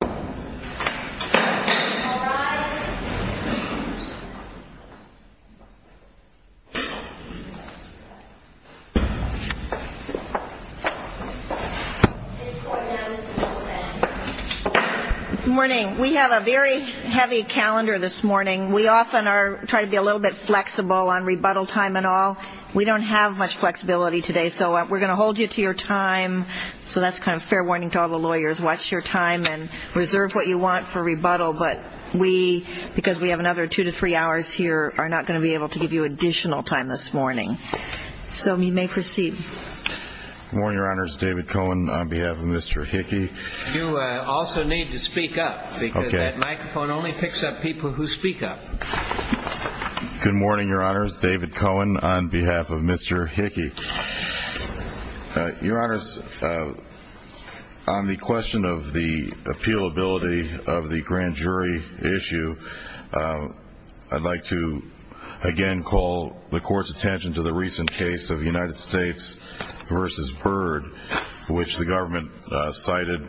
Good morning. We have a very heavy calendar this morning. We often try to be a little bit flexible on rebuttal time and all. We don't have much flexibility today, so we're going to hold you to your time. So that's kind of fair warning to all the lawyers. Watch your time and reserve what you want for rebuttal, but we, because we have another two to three hours here, are not going to be able to give you additional time this morning. So you may proceed. David Cohen Good morning, Your Honors. David Cohen on behalf of Mr. Hickey. David Cohen You also need to speak up because that microphone only picks up people who speak up. David Cohen Good morning, Your Honors. David Cohen on behalf of Mr. Hickey. David Cohen Your Honors, on the question of the appealability of the grand jury issue, I'd like to again call the Court's attention to the recent case of United States v. Byrd, which the government cited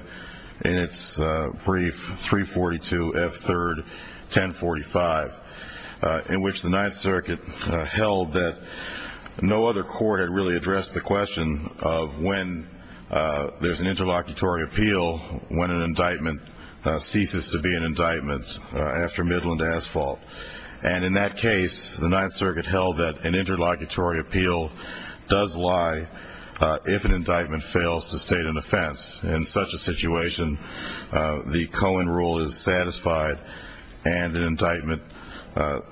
in its brief 342 F. 3rd. 1045, in which the Ninth Circuit held that no other court had really addressed the question of when there's an interlocutory appeal when an indictment ceases to be an indictment after Midland Asphalt. And in that case, the Ninth Circuit held that an interlocutory appeal does lie if an indictment fails to state an offense. In such a situation, the Cohen rule is satisfied and an indictment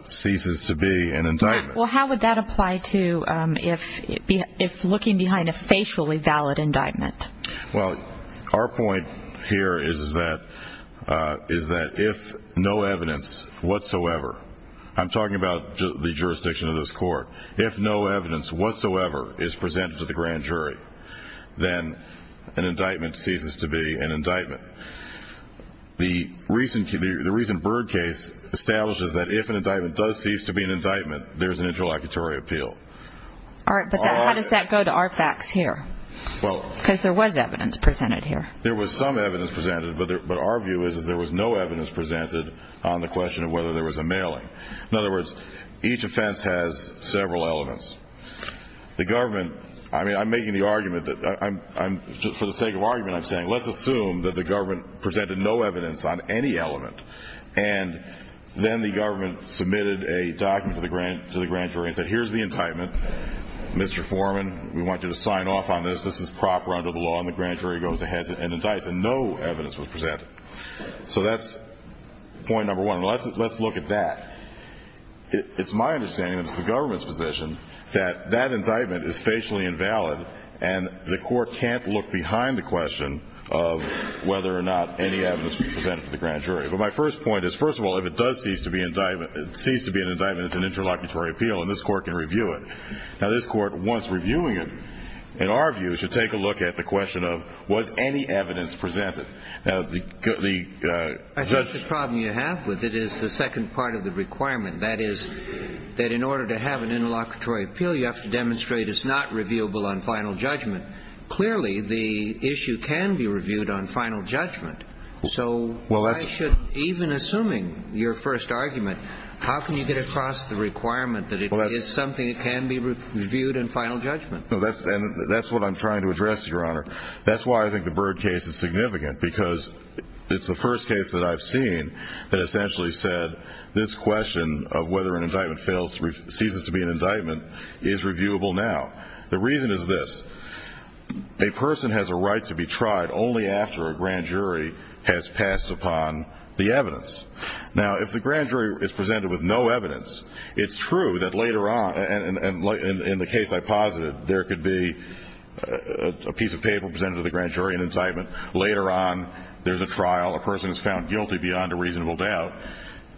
ceases to be an indictment. Judge Golden Well, how would that apply to if looking behind a facially valid indictment? David Cohen Well, our point here is that if no evidence whatsoever, I'm talking about the jurisdiction of this Court, if no evidence whatsoever is presented to the grand jury, then an indictment ceases to be an indictment. The recent Byrd case establishes that if an indictment does cease to be an indictment, there's an interlocutory appeal. Judge Golden All right, but how does that go to our facts here? Because there was evidence presented here. David Cohen There was some evidence presented, but our view is that there was no evidence presented on the question of whether there was a mailing. In other words, each offense has several elements. The government, I mean, I'm making the argument that I'm, for the sake of argument, I'm saying let's assume that the government presented no evidence on any element, and then the government submitted a document to the grand jury and said, here's the indictment. Mr. Foreman, we want you to sign off on this. This is proper under the law, and the grand jury goes ahead and indicts, and no evidence was presented. So that's point number one, and let's look at that. It's my understanding that it's the government's position that that indictment is facially invalid, and the Court can't look behind the question of whether or not any evidence was presented to the grand jury. But my first point is, first of all, if it does cease to be an indictment, it's an interlocutory appeal, and this Court can review it. Now, this Court, once reviewing it, in our view, should take a look at the question of was any evidence presented. Now, the judge— Justice Sotomayor I think the problem you have with it is the second part of the requirement. That is, that in order to have an interlocutory appeal, you have to demonstrate it's not reviewable on final judgment. Clearly, the issue can be reviewed on final judgment. So why should—even assuming your first argument, how can you get across the requirement that it is something that can be reviewed on final judgment? Mr. Foreman No, that's—and that's what I'm trying to address, Your Honor. That's why I think the Byrd case is significant, because it's the first case that I've seen that essentially said this question of whether an indictment ceases to be an indictment is reviewable now. The reason is this. A person has a right to be tried only after a grand jury has passed upon the evidence. Now, if the grand jury is presented with no evidence, it's true that later on—and in the case I posited, there could be a piece of paper presented to the grand jury, an indictment. Later on, there's a trial, a person is found guilty beyond a reasonable doubt,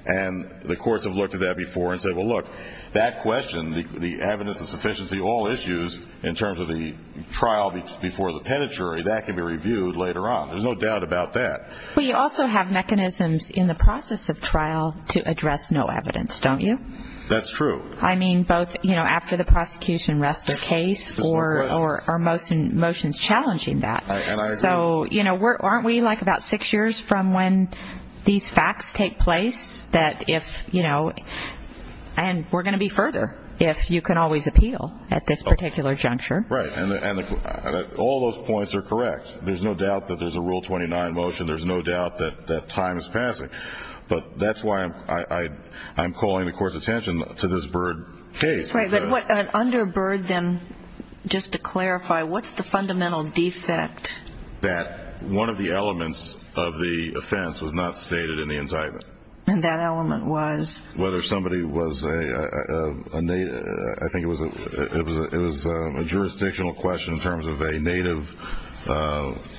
and the courts have looked at that before and said, well, look, that question, the evidence of sufficiency, all issues in terms of the trial before the penitentiary, that can be reviewed later on. There's no doubt about that. Ms. Atkins Well, you also have mechanisms in the process of trial to address no evidence, don't you? Mr. Foreman That's true. Ms. Atkins I mean, both, you know, after the prosecution rests their case or are motions challenging that. So, you know, aren't we like about six years from when these facts take place that if, you know—and we're going to be further if you can always appeal at this particular juncture. Mr. Foreman Right. And all those points are correct. There's no doubt that there's a Rule 29 motion. There's no doubt that time is passing. But that's why I'm calling the Court's attention to this Byrd case. Ms. Atkins Right. But what—under Byrd, then, just to clarify, what's the fundamental defect? Mr. Foreman That one of the elements of the offense was not stated in the indictment. Ms. Atkins And that element was? Mr. Foreman Whether somebody was a—I think it was a jurisdictional question in terms of a Native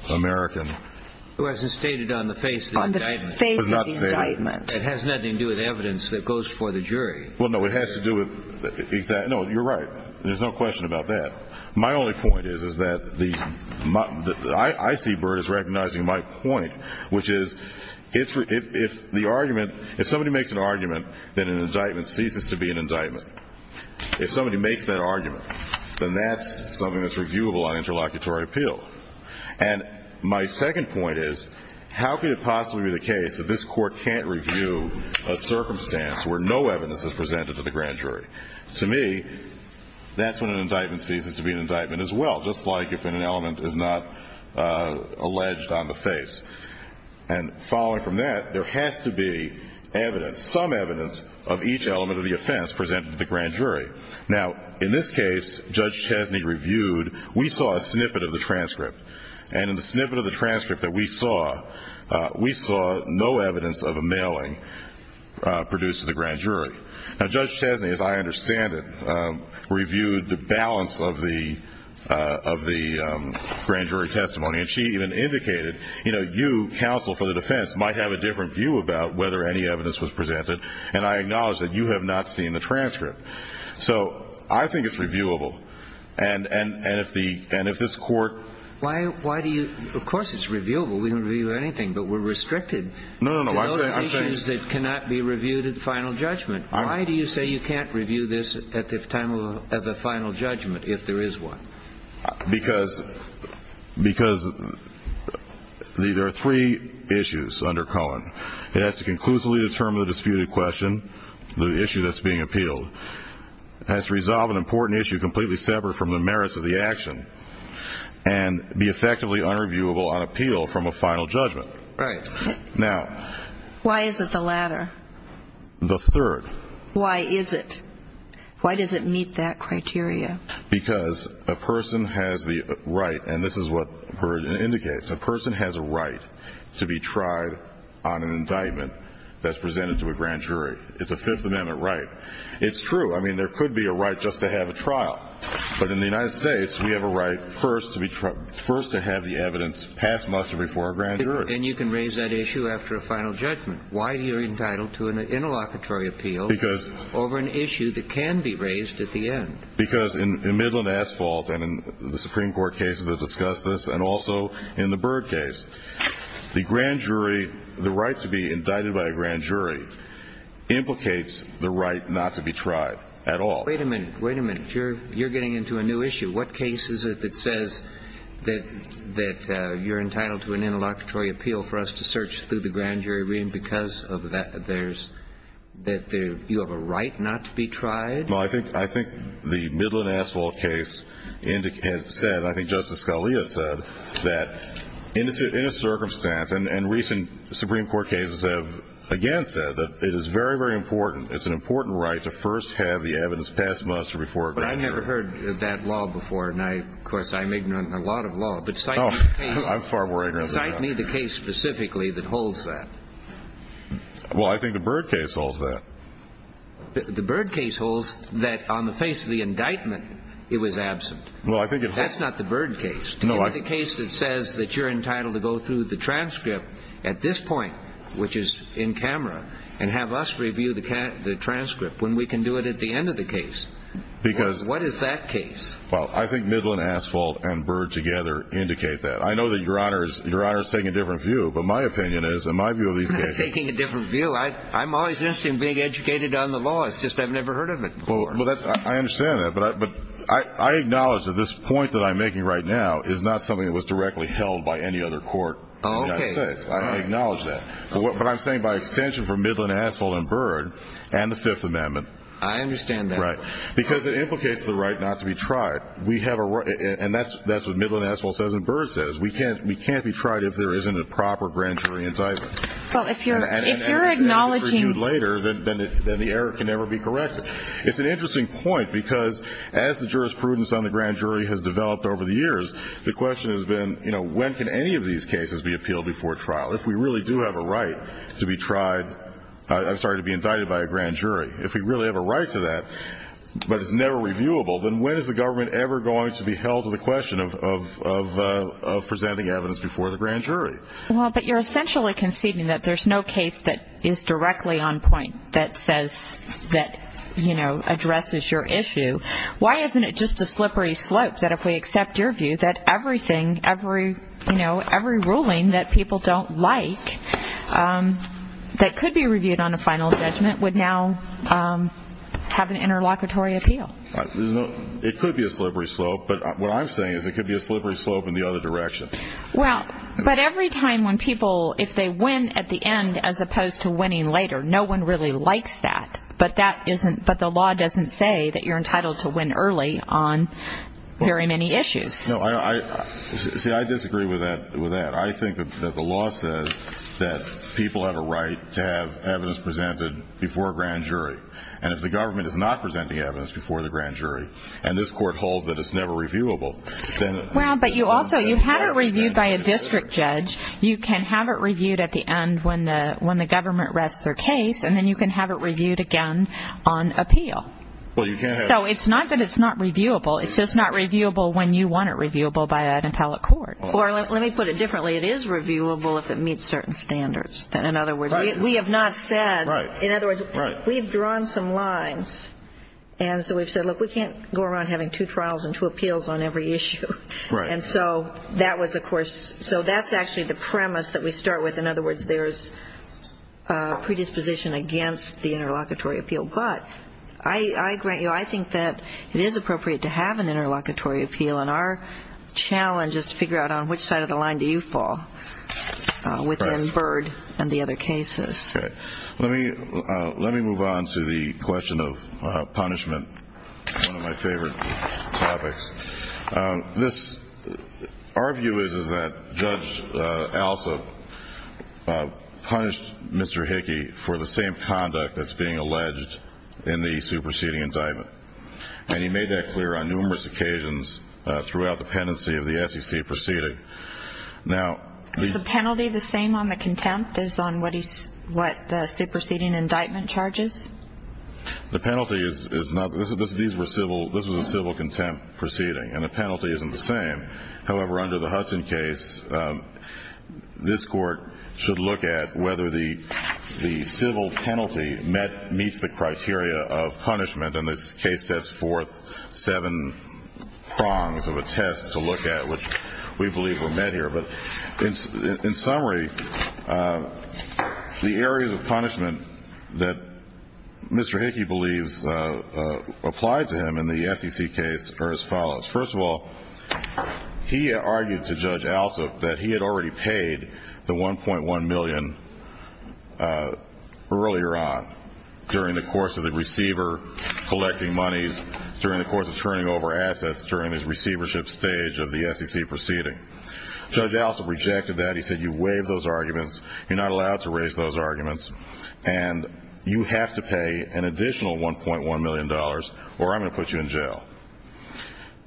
American. Mr. Kline It wasn't stated on the face of the indictment. Ms. Atkins On the face of the indictment. Mr. Kline It was not stated. Ms. Atkins It has nothing to do with evidence that goes before the jury. Mr. Kline Well, no, it has to do with—no, you're right. There's no question about that. My only point is that the—I see Byrd as recognizing my point, which is if the argument—if somebody makes an argument that an indictment ceases to be an indictment, if somebody makes that argument, then that's something that's reviewable on interlocutory appeal. And my second point is, how could it possibly be the case that this Court can't review a circumstance where no evidence is presented to the grand jury? To me, that's when an indictment ceases to be an indictment as well, just like if an element is not alleged on the face. And following from that, there has to be evidence, some evidence, of each element of the offense presented to the grand jury. Now, in this case, Judge Chesney reviewed—we saw a snippet of the transcript. And in the snippet of the transcript that we saw, we saw no evidence of a mailing produced to the grand jury. And Judge Chesney, as I understand it, reviewed the balance of the grand jury testimony. And she even indicated, you know, you, counsel for the defense, might have a different view about whether any evidence was presented. And I acknowledge that you have not seen the transcript. So I think it's reviewable. And if the—and if this Court— Why do you—of course it's reviewable. We can review anything. But we're restricted to those issues that cannot be reviewed at the final judgment. Why do you say you can't review this at the time of—at the final judgment, if there is one? Because—because there are three issues under Cohen. It has to conclusively determine the disputed question, the issue that's being appealed. It has to resolve an important issue completely separate from the merits of the action. And be effectively unreviewable on appeal from a final judgment. Right. Now— Why is it the latter? The third. Why is it? Why does it meet that criteria? Because a person has the right—and this is what Burd indicates—a person has a right to be tried on an indictment that's presented to a grand jury. It's a Fifth Amendment right. It's true. I mean, there could be a right just to have a trial. But in the United States, we have a right first to be—first to have the evidence passed muster before a grand jury. And you can raise that issue after a final judgment. Why are you entitled to an interlocutory appeal over an issue that can be raised at the end? Because in Midland Asphalt, and in the Supreme Court cases that discuss this, and also in the Burd case, the grand jury—the right to be indicted by a grand jury implicates the right not to be tried at all. Wait a minute. Wait a minute. You're getting into a new issue. What case is it that says that—that you're entitled to an interlocutory appeal for us to search through the grand jury? You have a right not to be tried? Well, I think—I think the Midland Asphalt case has said—I think Justice Scalia said that in a circumstance—and recent Supreme Court cases have again said that it is very, very important—it's an important right to first have the evidence passed muster before a grand jury. But I've never heard that law before. And I—of course, I'm ignorant of a lot of law. But cite me the case— Oh, I'm far more ignorant than that. Cite me the case specifically that holds that. Well, I think the Burd case holds that. The Burd case holds that on the face of the indictment, it was absent. Well, I think it holds— That's not the Burd case. No, I— Give me the case that says that you're entitled to go through the transcript at this point, which is in camera, and have us review the transcript when we can do it at the end of the case. Because— What is that case? Well, I think Midland Asphalt and Burd together indicate that. I know that Your Honor is—Your Honor is taking a different view. I'm always interested in being educated on the law. It's just I've never heard of it before. Well, that's—I understand that. But I acknowledge that this point that I'm making right now is not something that was directly held by any other court in the United States. I acknowledge that. But what I'm saying by extension for Midland Asphalt and Burd and the Fifth Amendment— I understand that. Right. Because it implicates the right not to be tried. We have a—and that's what Midland Asphalt says and Burd says. We can't be tried if there isn't a proper grand jury indictment. Well, if you're—if you're acknowledging— And if it's handed to you later, then the error can never be corrected. It's an interesting point, because as the jurisprudence on the grand jury has developed over the years, the question has been, you know, when can any of these cases be appealed before trial? If we really do have a right to be tried—I'm sorry, to be indicted by a grand jury, if we really have a right to that, but it's never reviewable, then when is the government ever going to be held to the question of presenting evidence before the grand jury? Well, but you're essentially conceding that there's no case that is directly on point that says that, you know, addresses your issue. Why isn't it just a slippery slope that if we accept your view, that everything, every, you know, every ruling that people don't like that could be reviewed on a final judgment would now have an interlocutory appeal? There's no—it could be a slippery slope, but what I'm saying is it could be a slippery slope in the other direction. Well, but every time when people—if they win at the end as opposed to winning later, no one really likes that, but that isn't—but the law doesn't say that you're entitled to win early on very many issues. No, I—see, I disagree with that. I think that the law says that people have a right to have evidence presented before a grand jury, and if the government is not presenting evidence before the grand jury, and this Court holds that it's never reviewable, then— Well, but you also—you have it reviewed by a district judge. You can have it reviewed at the end when the—when the government rests their case, and then you can have it reviewed again on appeal. Well, you can't have— So it's not that it's not reviewable. It's just not reviewable when you want it reviewable by an appellate court. Or let me put it differently. It is reviewable if it meets certain standards. In other words, we have not said— Right. Right. In other words, we've drawn some lines, and so we've said, look, we can't go around having two trials and two appeals on every issue. Right. And so that was, of course—so that's actually the premise that we start with. In other words, there's predisposition against the interlocutory appeal. But I—I grant you, I think that it is appropriate to have an interlocutory appeal, and our challenge is to figure out on which side of the line do you fall within Byrd and the other cases. Okay. Let me—let me move on to the question of punishment, one of my favorite topics. This—our view is, is that Judge Alsop punished Mr. Hickey for the same conduct that's being alleged in the superseding indictment. And he made that clear on numerous occasions throughout the pendency of the SEC proceeding. Now— Is the penalty the same on the contempt as on what he—what the superseding indictment charges? The penalty is—is not—this is—these were civil—this was a civil contempt proceeding, and the penalty isn't the same. However, under the Hudson case, this Court should look at whether the—the civil penalty met—meets the criteria of punishment, and this case sets forth seven prongs of a test to look at, which we believe were met here. But in—in summary, the areas of punishment that Mr. Hickey believes applied to him in the SEC case are as follows. First of all, he argued to Judge Alsop that he had already paid the $1.1 million earlier on, during the course of the receiver collecting monies, during the course of turning over assets, during his receivership stage of the SEC proceeding. Judge Alsop rejected that. He said, you waived those arguments, you're not allowed to raise those arguments, and you have to pay an additional $1.1 million, or I'm going to put you in jail.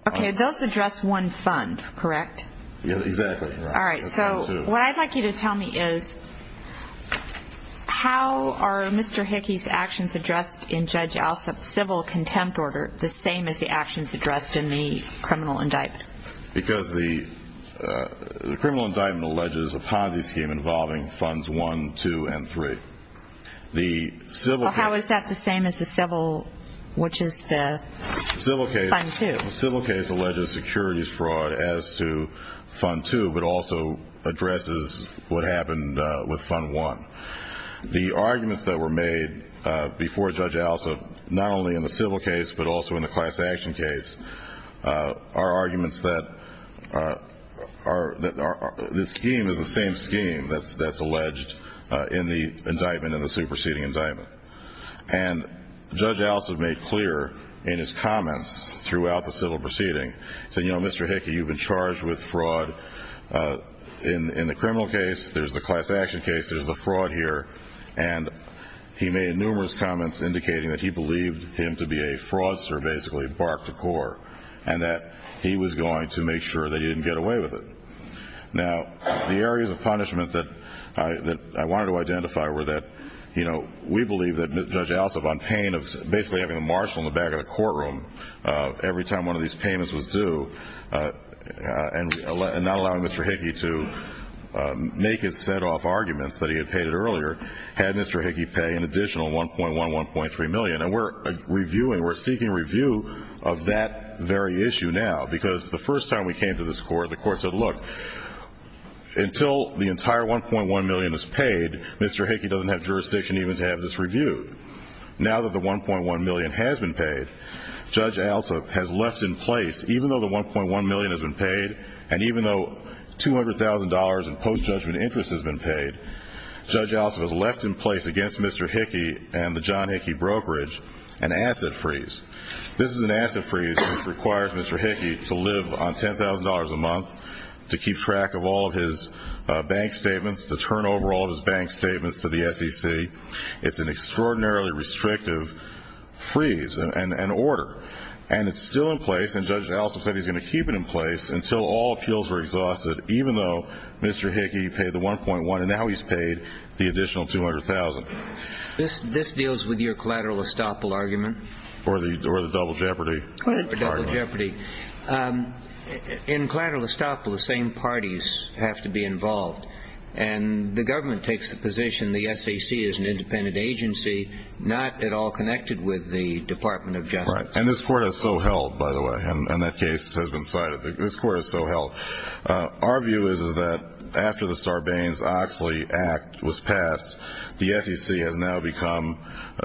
Okay, those address one fund, correct? Yeah, exactly. All right, so what I'd like you to tell me is, how are Mr. Hickey's actions addressed in Judge Alsop's civil contempt order the same as the actions addressed in the criminal indictment? Because the criminal indictment alleges a Ponzi scheme involving funds one, two, and three. How is that the same as the civil, which is the fund two? The civil case alleges securities fraud as to fund two, but also addresses what happened with fund one. The arguments that were made before Judge Alsop, not only in the civil case, but also in the class action case, are arguments that the scheme is the same scheme that's alleged in the indictment, in the superseding indictment. And Judge Alsop made clear in his comments throughout the civil proceeding, he said, you know, Mr. Hickey, you've been charged with fraud in the criminal case, there's the class action case, there's the fraud here, and he made numerous comments indicating that he believed him to be a fraudster, that he basically barked the cork, and that he was going to make sure that he didn't get away with it. Now, the areas of punishment that I wanted to identify were that, you know, we believe that Judge Alsop, on pain of basically having a marshal in the back of the courtroom every time one of these payments was due, and not allowing Mr. Hickey to make his set-off arguments that he had paid it earlier, had Mr. Hickey pay an additional $1.1, $1.3 million, and we're reviewing, we're seeking review of that very issue now, because the first time we came to this court, the court said, look, until the entire $1.1 million is paid, Mr. Hickey doesn't have jurisdiction even to have this reviewed. Now that the $1.1 million has been paid, Judge Alsop has left in place, even though the $1.1 million has been paid, and even though $200,000 in post-judgment interest has been paid, Judge Alsop has left in place against Mr. Hickey and the John Hickey brokerage an asset freeze. This is an asset freeze that requires Mr. Hickey to live on $10,000 a month, to keep track of all of his bank statements, to turn over all of his bank statements to the SEC. It's an extraordinarily restrictive freeze and order, and it's still in place, and Judge Alsop said he's going to keep it in place until all appeals are exhausted, even though Mr. Hickey paid the $1.1 million, and now he's paid the additional $200,000. This deals with your collateral estoppel argument? Or the double jeopardy? Or double jeopardy. In collateral estoppel, the same parties have to be involved, and the government takes the position the SEC is an independent agency, not at all connected with the Department of Justice. Right. And this Court has so held, by the way, and that case has been cited. This Court has so held. Our view is that after the Sarbanes-Oxley Act was passed, the SEC has now become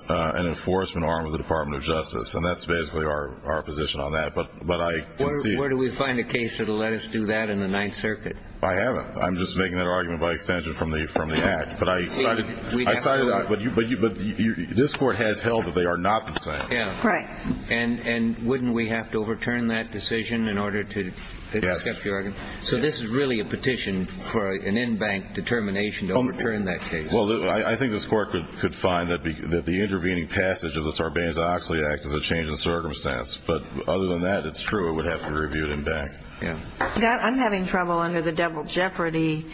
an enforcement arm of the Department of Justice, and that's basically our position on that. Where do we find a case that will let us do that in the Ninth Circuit? I haven't. I'm just making that argument by extension from the Act. But this Court has held that they are not the same. Right. And wouldn't we have to overturn that decision in order to accept the argument? Yes. So this is really a petition for an in-bank determination to overturn that case. Well, I think this Court could find that the intervening passage of the Sarbanes-Oxley Act is a change in circumstance. But other than that, it's true it would have to be reviewed in-bank. Yeah. I'm having trouble under the double jeopardy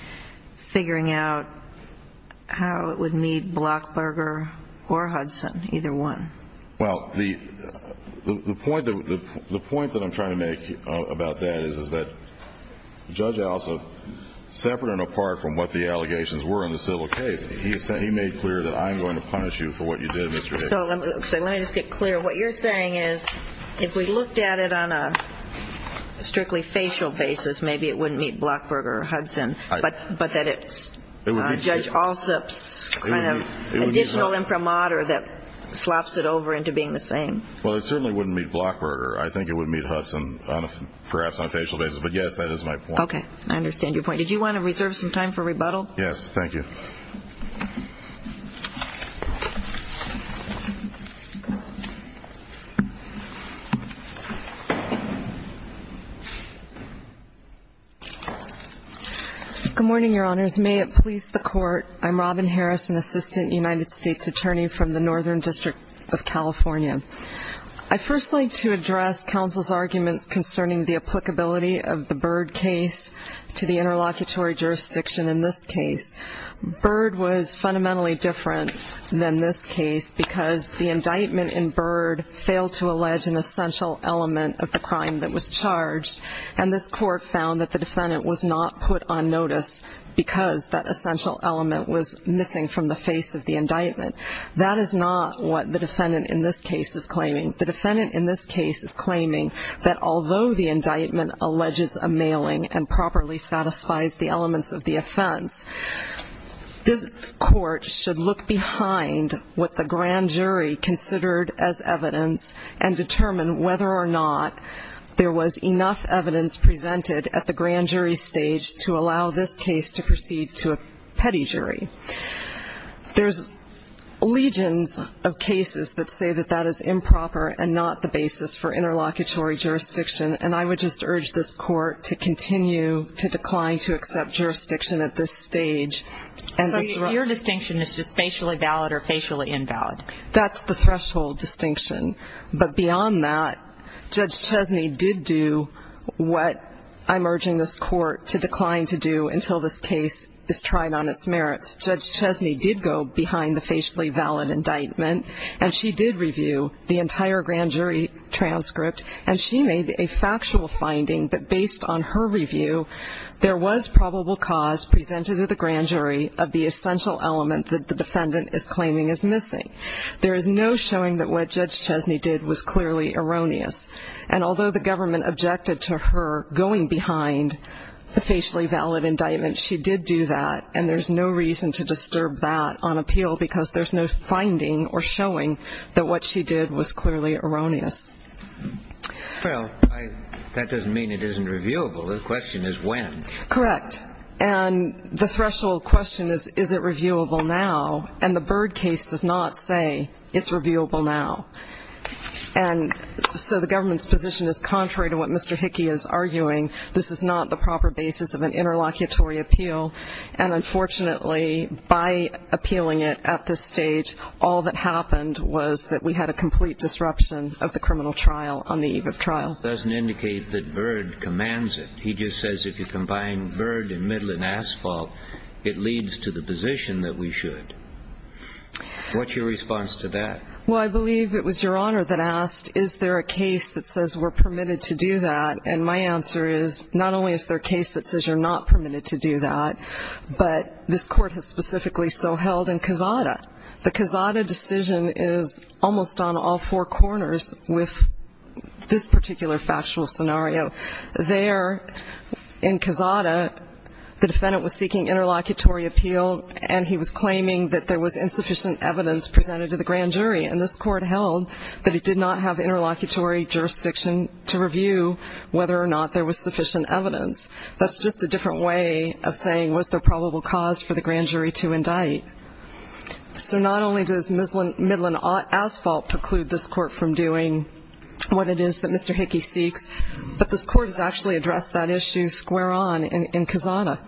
figuring out how it would meet Blockberger or Hudson, either one. Well, the point that I'm trying to make about that is that Judge Alsup, separate and apart from what the allegations were in the civil case, he made clear that I'm going to punish you for what you did, Mr. Hicks. So let me just get clear. What you're saying is if we looked at it on a strictly facial basis, maybe it wouldn't meet Blockberger or Hudson, but that it's Judge Alsup's kind of additional imprimatur that slops it over into being the same. Well, it certainly wouldn't meet Blockberger. I think it would meet Hudson, perhaps on a facial basis. But, yes, that is my point. Okay. I understand your point. Did you want to reserve some time for rebuttal? Yes. Thank you. Good morning, Your Honors. May it please the Court. I'm Robin Harris, an assistant United States attorney from the Northern District of California. I'd first like to address counsel's arguments concerning the applicability of the Byrd case to the interlocutory jurisdiction in this case. Byrd was fundamentally different than this case because the indictment in Byrd failed to allege an essential element of the crime that was charged, and this Court found that the defendant was not put on notice because that essential element was missing from the face of the indictment. That is not what the defendant in this case is claiming. The defendant in this case is claiming that although the indictment alleges a mailing and properly satisfies the elements of the offense, this Court should look behind what the grand jury considered as evidence and determine whether or not there was enough evidence presented at the grand jury stage to allow this case to proceed to a petty jury. There's legions of cases that say that that is improper and not the basis for interlocutory jurisdiction, and I would just urge this Court to continue to decline to accept jurisdiction at this stage. So your distinction is just facially valid or facially invalid? That's the threshold distinction. But beyond that, Judge Chesney did do what I'm urging this Court to decline to do until this case is tried on its merits. Judge Chesney did go behind the facially valid indictment, and she did review the entire grand jury transcript, and she made a factual finding that based on her review, there was probable cause presented to the grand jury of the essential element that the defendant is claiming is missing. There is no showing that what Judge Chesney did was clearly erroneous, and although the government objected to her going behind the facially valid indictment, she did do that, and there's no reason to disturb that on appeal because there's no finding or showing that what she did was clearly erroneous. Well, that doesn't mean it isn't reviewable. The question is when. Correct. And the threshold question is, is it reviewable now? And the Byrd case does not say it's reviewable now. And so the government's position is contrary to what Mr. Hickey is arguing. This is not the proper basis of an interlocutory appeal, and unfortunately by appealing it at this stage, all that happened was that we had a complete disruption of the criminal trial on the eve of trial. It doesn't indicate that Byrd commands it. He just says if you combine Byrd and Midland Asphalt, it leads to the position that we should. What's your response to that? Well, I believe it was Your Honor that asked, is there a case that says we're permitted to do that, and my answer is not only is there a case that says you're not permitted to do that, but this Court has specifically so held in Cazada. The Cazada decision is almost on all four corners with this particular factual scenario. There in Cazada, the defendant was seeking interlocutory appeal, and he was claiming that there was insufficient evidence presented to the grand jury, and this Court held that it did not have interlocutory jurisdiction to review whether or not there was sufficient evidence. That's just a different way of saying was there probable cause for the grand jury to indict. So not only does Midland Asphalt preclude this Court from doing what it is that Mr. Hickey seeks, but this Court has actually addressed that issue square on in Cazada.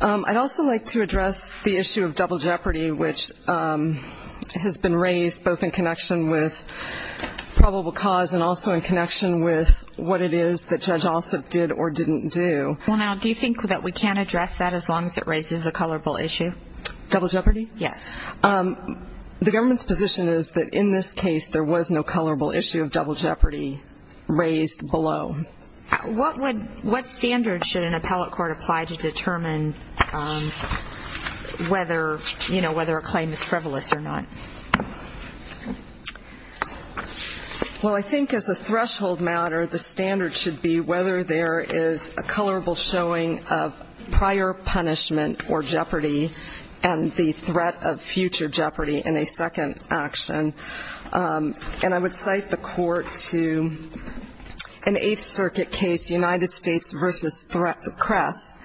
I'd also like to address the issue of double jeopardy, which has been raised both in connection with probable cause and also in connection with what it is that Judge Ossoff did or didn't do. Well, now, do you think that we can address that as long as it raises a colorable issue? Double jeopardy? Yes. The government's position is that in this case, there was no colorable issue of double jeopardy raised below. What standard should an appellate court apply to determine whether a claim is frivolous or not? Well, I think as a threshold matter, the standard should be whether there is a colorable showing of prior punishment or jeopardy and the threat of future jeopardy in a second action. And I would cite the Court to an Eighth Circuit case, United States v. Crest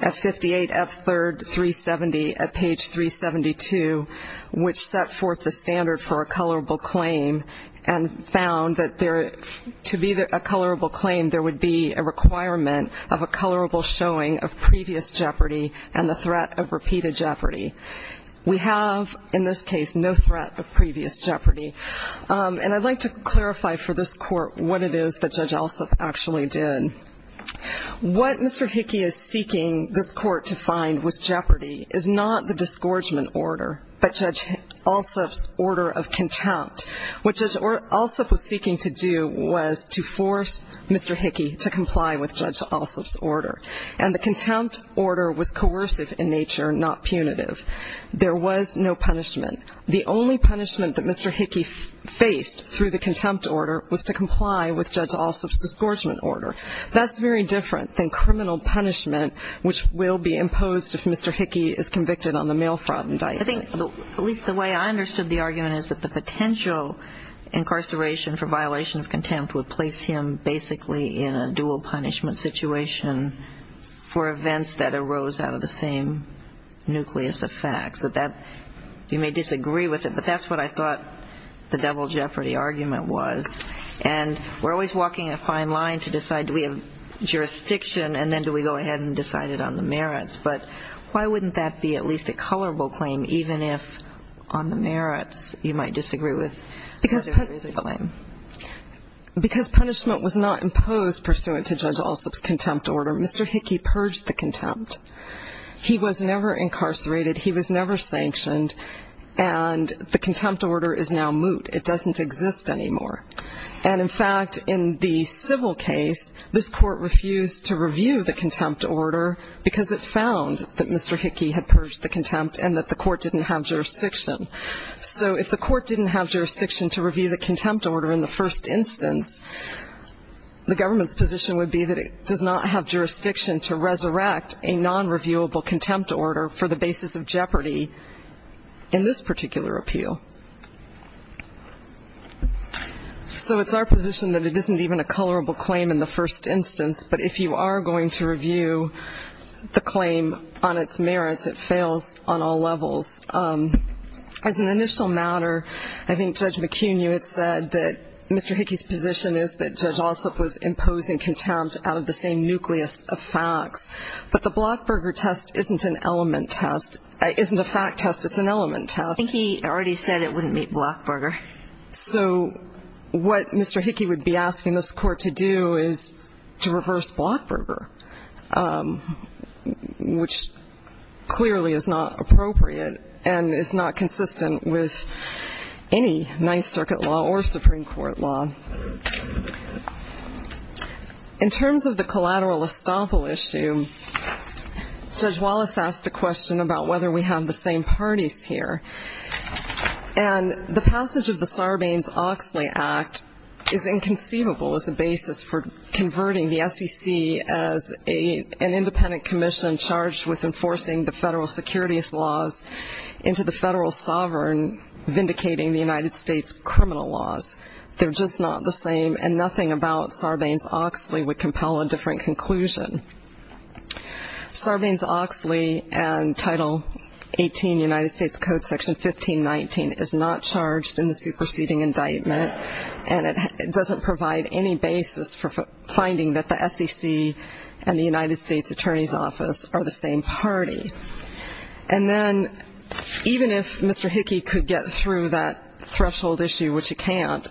at 58F3rd 370 at page 372, which set forth the standard for a colorable claim and found that to be a colorable claim, there would be a requirement of a colorable showing of previous jeopardy and the threat of repeated jeopardy. We have, in this case, no threat of previous jeopardy. And I'd like to clarify for this Court what it is that Judge Ossoff actually did. What Mr. Hickey is seeking this Court to find was jeopardy is not the disgorgement order, but Judge Ossoff's order of contempt. What Judge Ossoff was seeking to do was to force Mr. Hickey to comply with Judge Ossoff's order, and the contempt order was coercive in nature, not punitive. There was no punishment. The only punishment that Mr. Hickey faced through the contempt order was to comply with Judge Ossoff's disgorgement order. That's very different than criminal punishment, which will be imposed if Mr. Hickey is convicted on the mail fraud indictment. I think, at least the way I understood the argument, is that the potential incarceration for violation of contempt would place him basically in a dual punishment situation for events that arose out of the same nucleus of facts. You may disagree with it, but that's what I thought the double jeopardy argument was. And we're always walking a fine line to decide do we have jurisdiction and then do we go ahead and decide it on the merits. But why wouldn't that be at least a colorable claim, because punishment was not imposed pursuant to Judge Ossoff's contempt order. Mr. Hickey purged the contempt. He was never incarcerated. He was never sanctioned, and the contempt order is now moot. It doesn't exist anymore. And, in fact, in the civil case, this court refused to review the contempt order because it found that Mr. Hickey had purged the contempt and that the court didn't have jurisdiction. So if the court didn't have jurisdiction to review the contempt order in the first instance, the government's position would be that it does not have jurisdiction to resurrect a nonreviewable contempt order for the basis of jeopardy in this particular appeal. So it's our position that it isn't even a colorable claim in the first instance, but if you are going to review the claim on its merits, it fails on all levels. As an initial matter, I think Judge McCuney had said that Mr. Hickey's position is that Judge Ossoff was imposing contempt out of the same nucleus of facts. But the Blockburger test isn't an element test. It isn't a fact test. It's an element test. I think he already said it wouldn't meet Blockburger. So what Mr. Hickey would be asking this court to do is to reverse Blockburger, which clearly is not appropriate and is not consistent with any Ninth Circuit law or Supreme Court law. In terms of the collateral estoppel issue, Judge Wallace asked a question about whether we have the same parties here. And the passage of the Sarbanes-Oxley Act is inconceivable as a basis for converting the SEC as an independent commission charged with enforcing the federal securities laws into the federal sovereign vindicating the United States criminal laws. They're just not the same, and nothing about Sarbanes-Oxley would compel a different conclusion. Sarbanes-Oxley and Title 18 United States Code Section 1519 is not charged in the superseding indictment, and it doesn't provide any basis for finding that the SEC and the United States Attorney's Office are the same party. And then even if Mr. Hickey could get through that threshold issue, which he can't,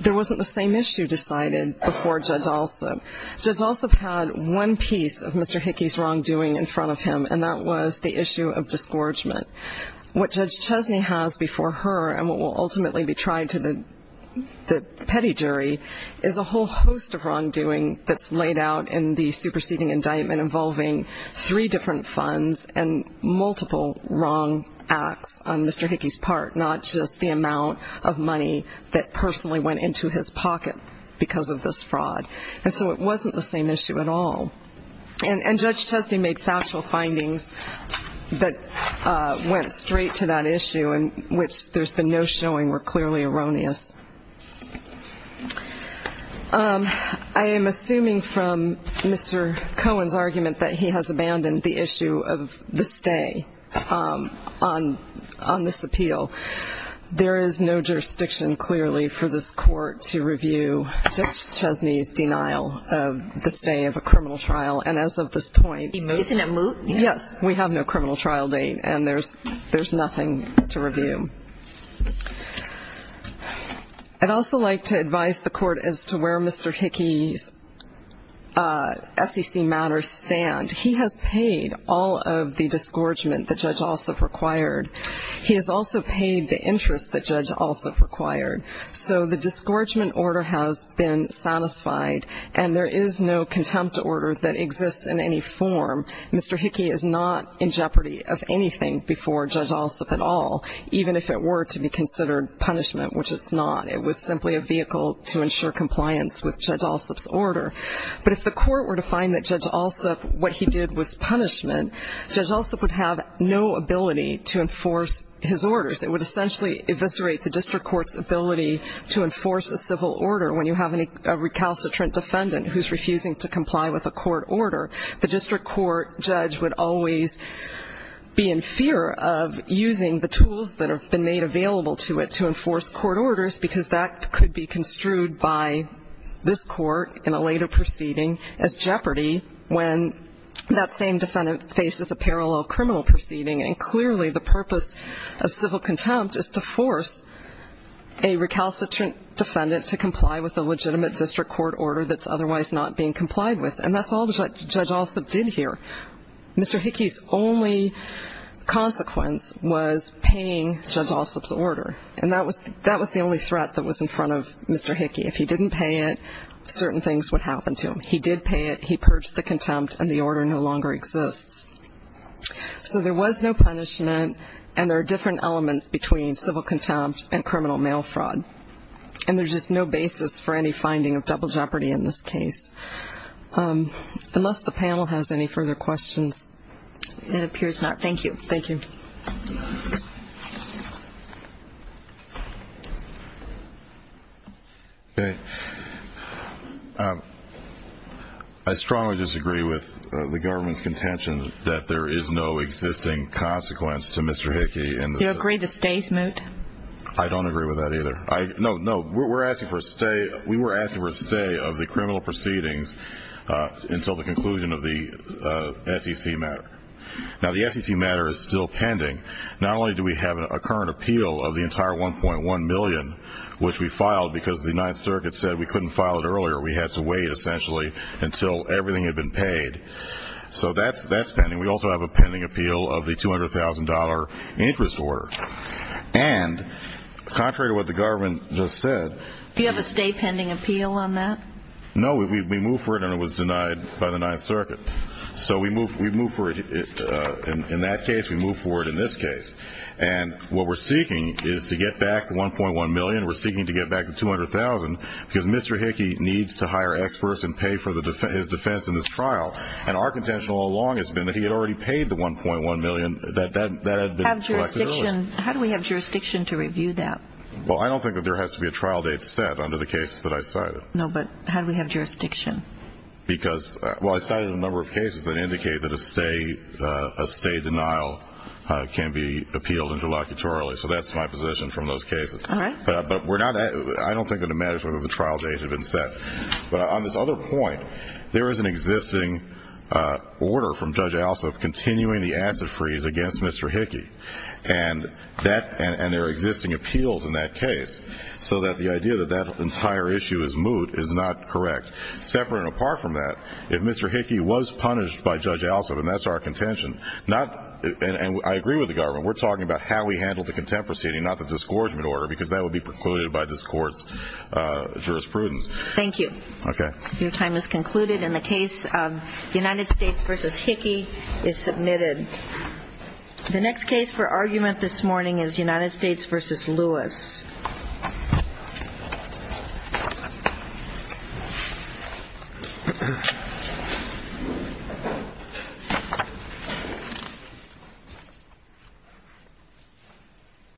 there wasn't the same issue decided before Judge Alsop. Judge Alsop had one piece of Mr. Hickey's wrongdoing in front of him, and that was the issue of disgorgement. What Judge Chesney has before her and what will ultimately be tried to the petty jury is a whole host of wrongdoing that's laid out in the superseding indictment involving three different funds and multiple wrong acts on Mr. Hickey's part, not just the amount of money that personally went into his pocket because of this fraud. And so it wasn't the same issue at all. And Judge Chesney made factual findings that went straight to that issue in which there's been no showing were clearly erroneous. I am assuming from Mr. Cohen's argument that he has abandoned the issue of the stay on this appeal. There is no jurisdiction clearly for this court to review Judge Chesney's denial of the stay of a criminal trial. And as of this point, yes, we have no criminal trial date, and there's nothing to review. I'd also like to advise the court as to where Mr. Hickey's SEC matters stand. He has paid all of the disgorgement that Judge Alsop required. He has also paid the interest that Judge Alsop required. So the disgorgement order has been satisfied, and there is no contempt order that exists in any form. Mr. Hickey is not in jeopardy of anything before Judge Alsop at all, even if it were to be considered punishment, which it's not. It was simply a vehicle to ensure compliance with Judge Alsop's order. But if the court were to find that Judge Alsop, what he did was punishment, Judge Alsop would have no ability to enforce his orders. It would essentially eviscerate the district court's ability to enforce a civil order when you have a recalcitrant defendant who's refusing to comply with a court order. The district court judge would always be in fear of using the tools that have been made available to it to enforce court orders because that could be construed by this court in a later proceeding as jeopardy when that same defendant faces a parallel criminal proceeding, and clearly the purpose of civil contempt is to force a recalcitrant defendant to comply with a legitimate district court order that's otherwise not being complied with. And that's all Judge Alsop did here. Mr. Hickey's only consequence was paying Judge Alsop's order, and that was the only threat that was in front of Mr. Hickey. If he didn't pay it, certain things would happen to him. He did pay it, he purged the contempt, and the order no longer exists. So there was no punishment, and there are different elements between civil contempt and criminal mail fraud, and there's just no basis for any finding of double jeopardy in this case. Unless the panel has any further questions. Thank you. Thank you. I strongly disagree with the government's contention that there is no existing consequence to Mr. Hickey. Do you agree the stay is moot? I don't agree with that either. No, no, we're asking for a stay. We were asking for a stay of the criminal proceedings until the conclusion of the SEC matter. Now, the SEC matter is still pending. Not only do we have a current appeal of the entire $1.1 million, which we filed because the Ninth Circuit said we couldn't file it earlier, we had to wait essentially until everything had been paid. So that's pending. We also have a pending appeal of the $200,000 interest order. And contrary to what the government just said. Do you have a stay pending appeal on that? No, we moved for it and it was denied by the Ninth Circuit. So we moved for it in that case. We moved for it in this case. And what we're seeking is to get back the $1.1 million. We're seeking to get back the $200,000 because Mr. Hickey needs to hire experts and pay for his defense in this trial. And our contention all along has been that he had already paid the $1.1 million. That had been collected earlier. How do we have jurisdiction to review that? Well, I don't think that there has to be a trial date set under the case that I cited. No, but how do we have jurisdiction? Well, I cited a number of cases that indicate that a stay denial can be appealed interlocutorily. So that's my position from those cases. All right. But I don't think that it matters whether the trial date had been set. But on this other point, there is an existing order from Judge Alsop continuing the acid freeze against Mr. Hickey. And there are existing appeals in that case. So the idea that that entire issue is moot is not correct. Separate and apart from that, if Mr. Hickey was punished by Judge Alsop, and that's our contention, and I agree with the government, we're talking about how we handle the contempt proceeding, not the disgorgement order, because that would be precluded by this court's jurisprudence. Thank you. Okay. Your time is concluded, and the case of United States v. Hickey is submitted. The next case for argument this morning is United States v. Lewis.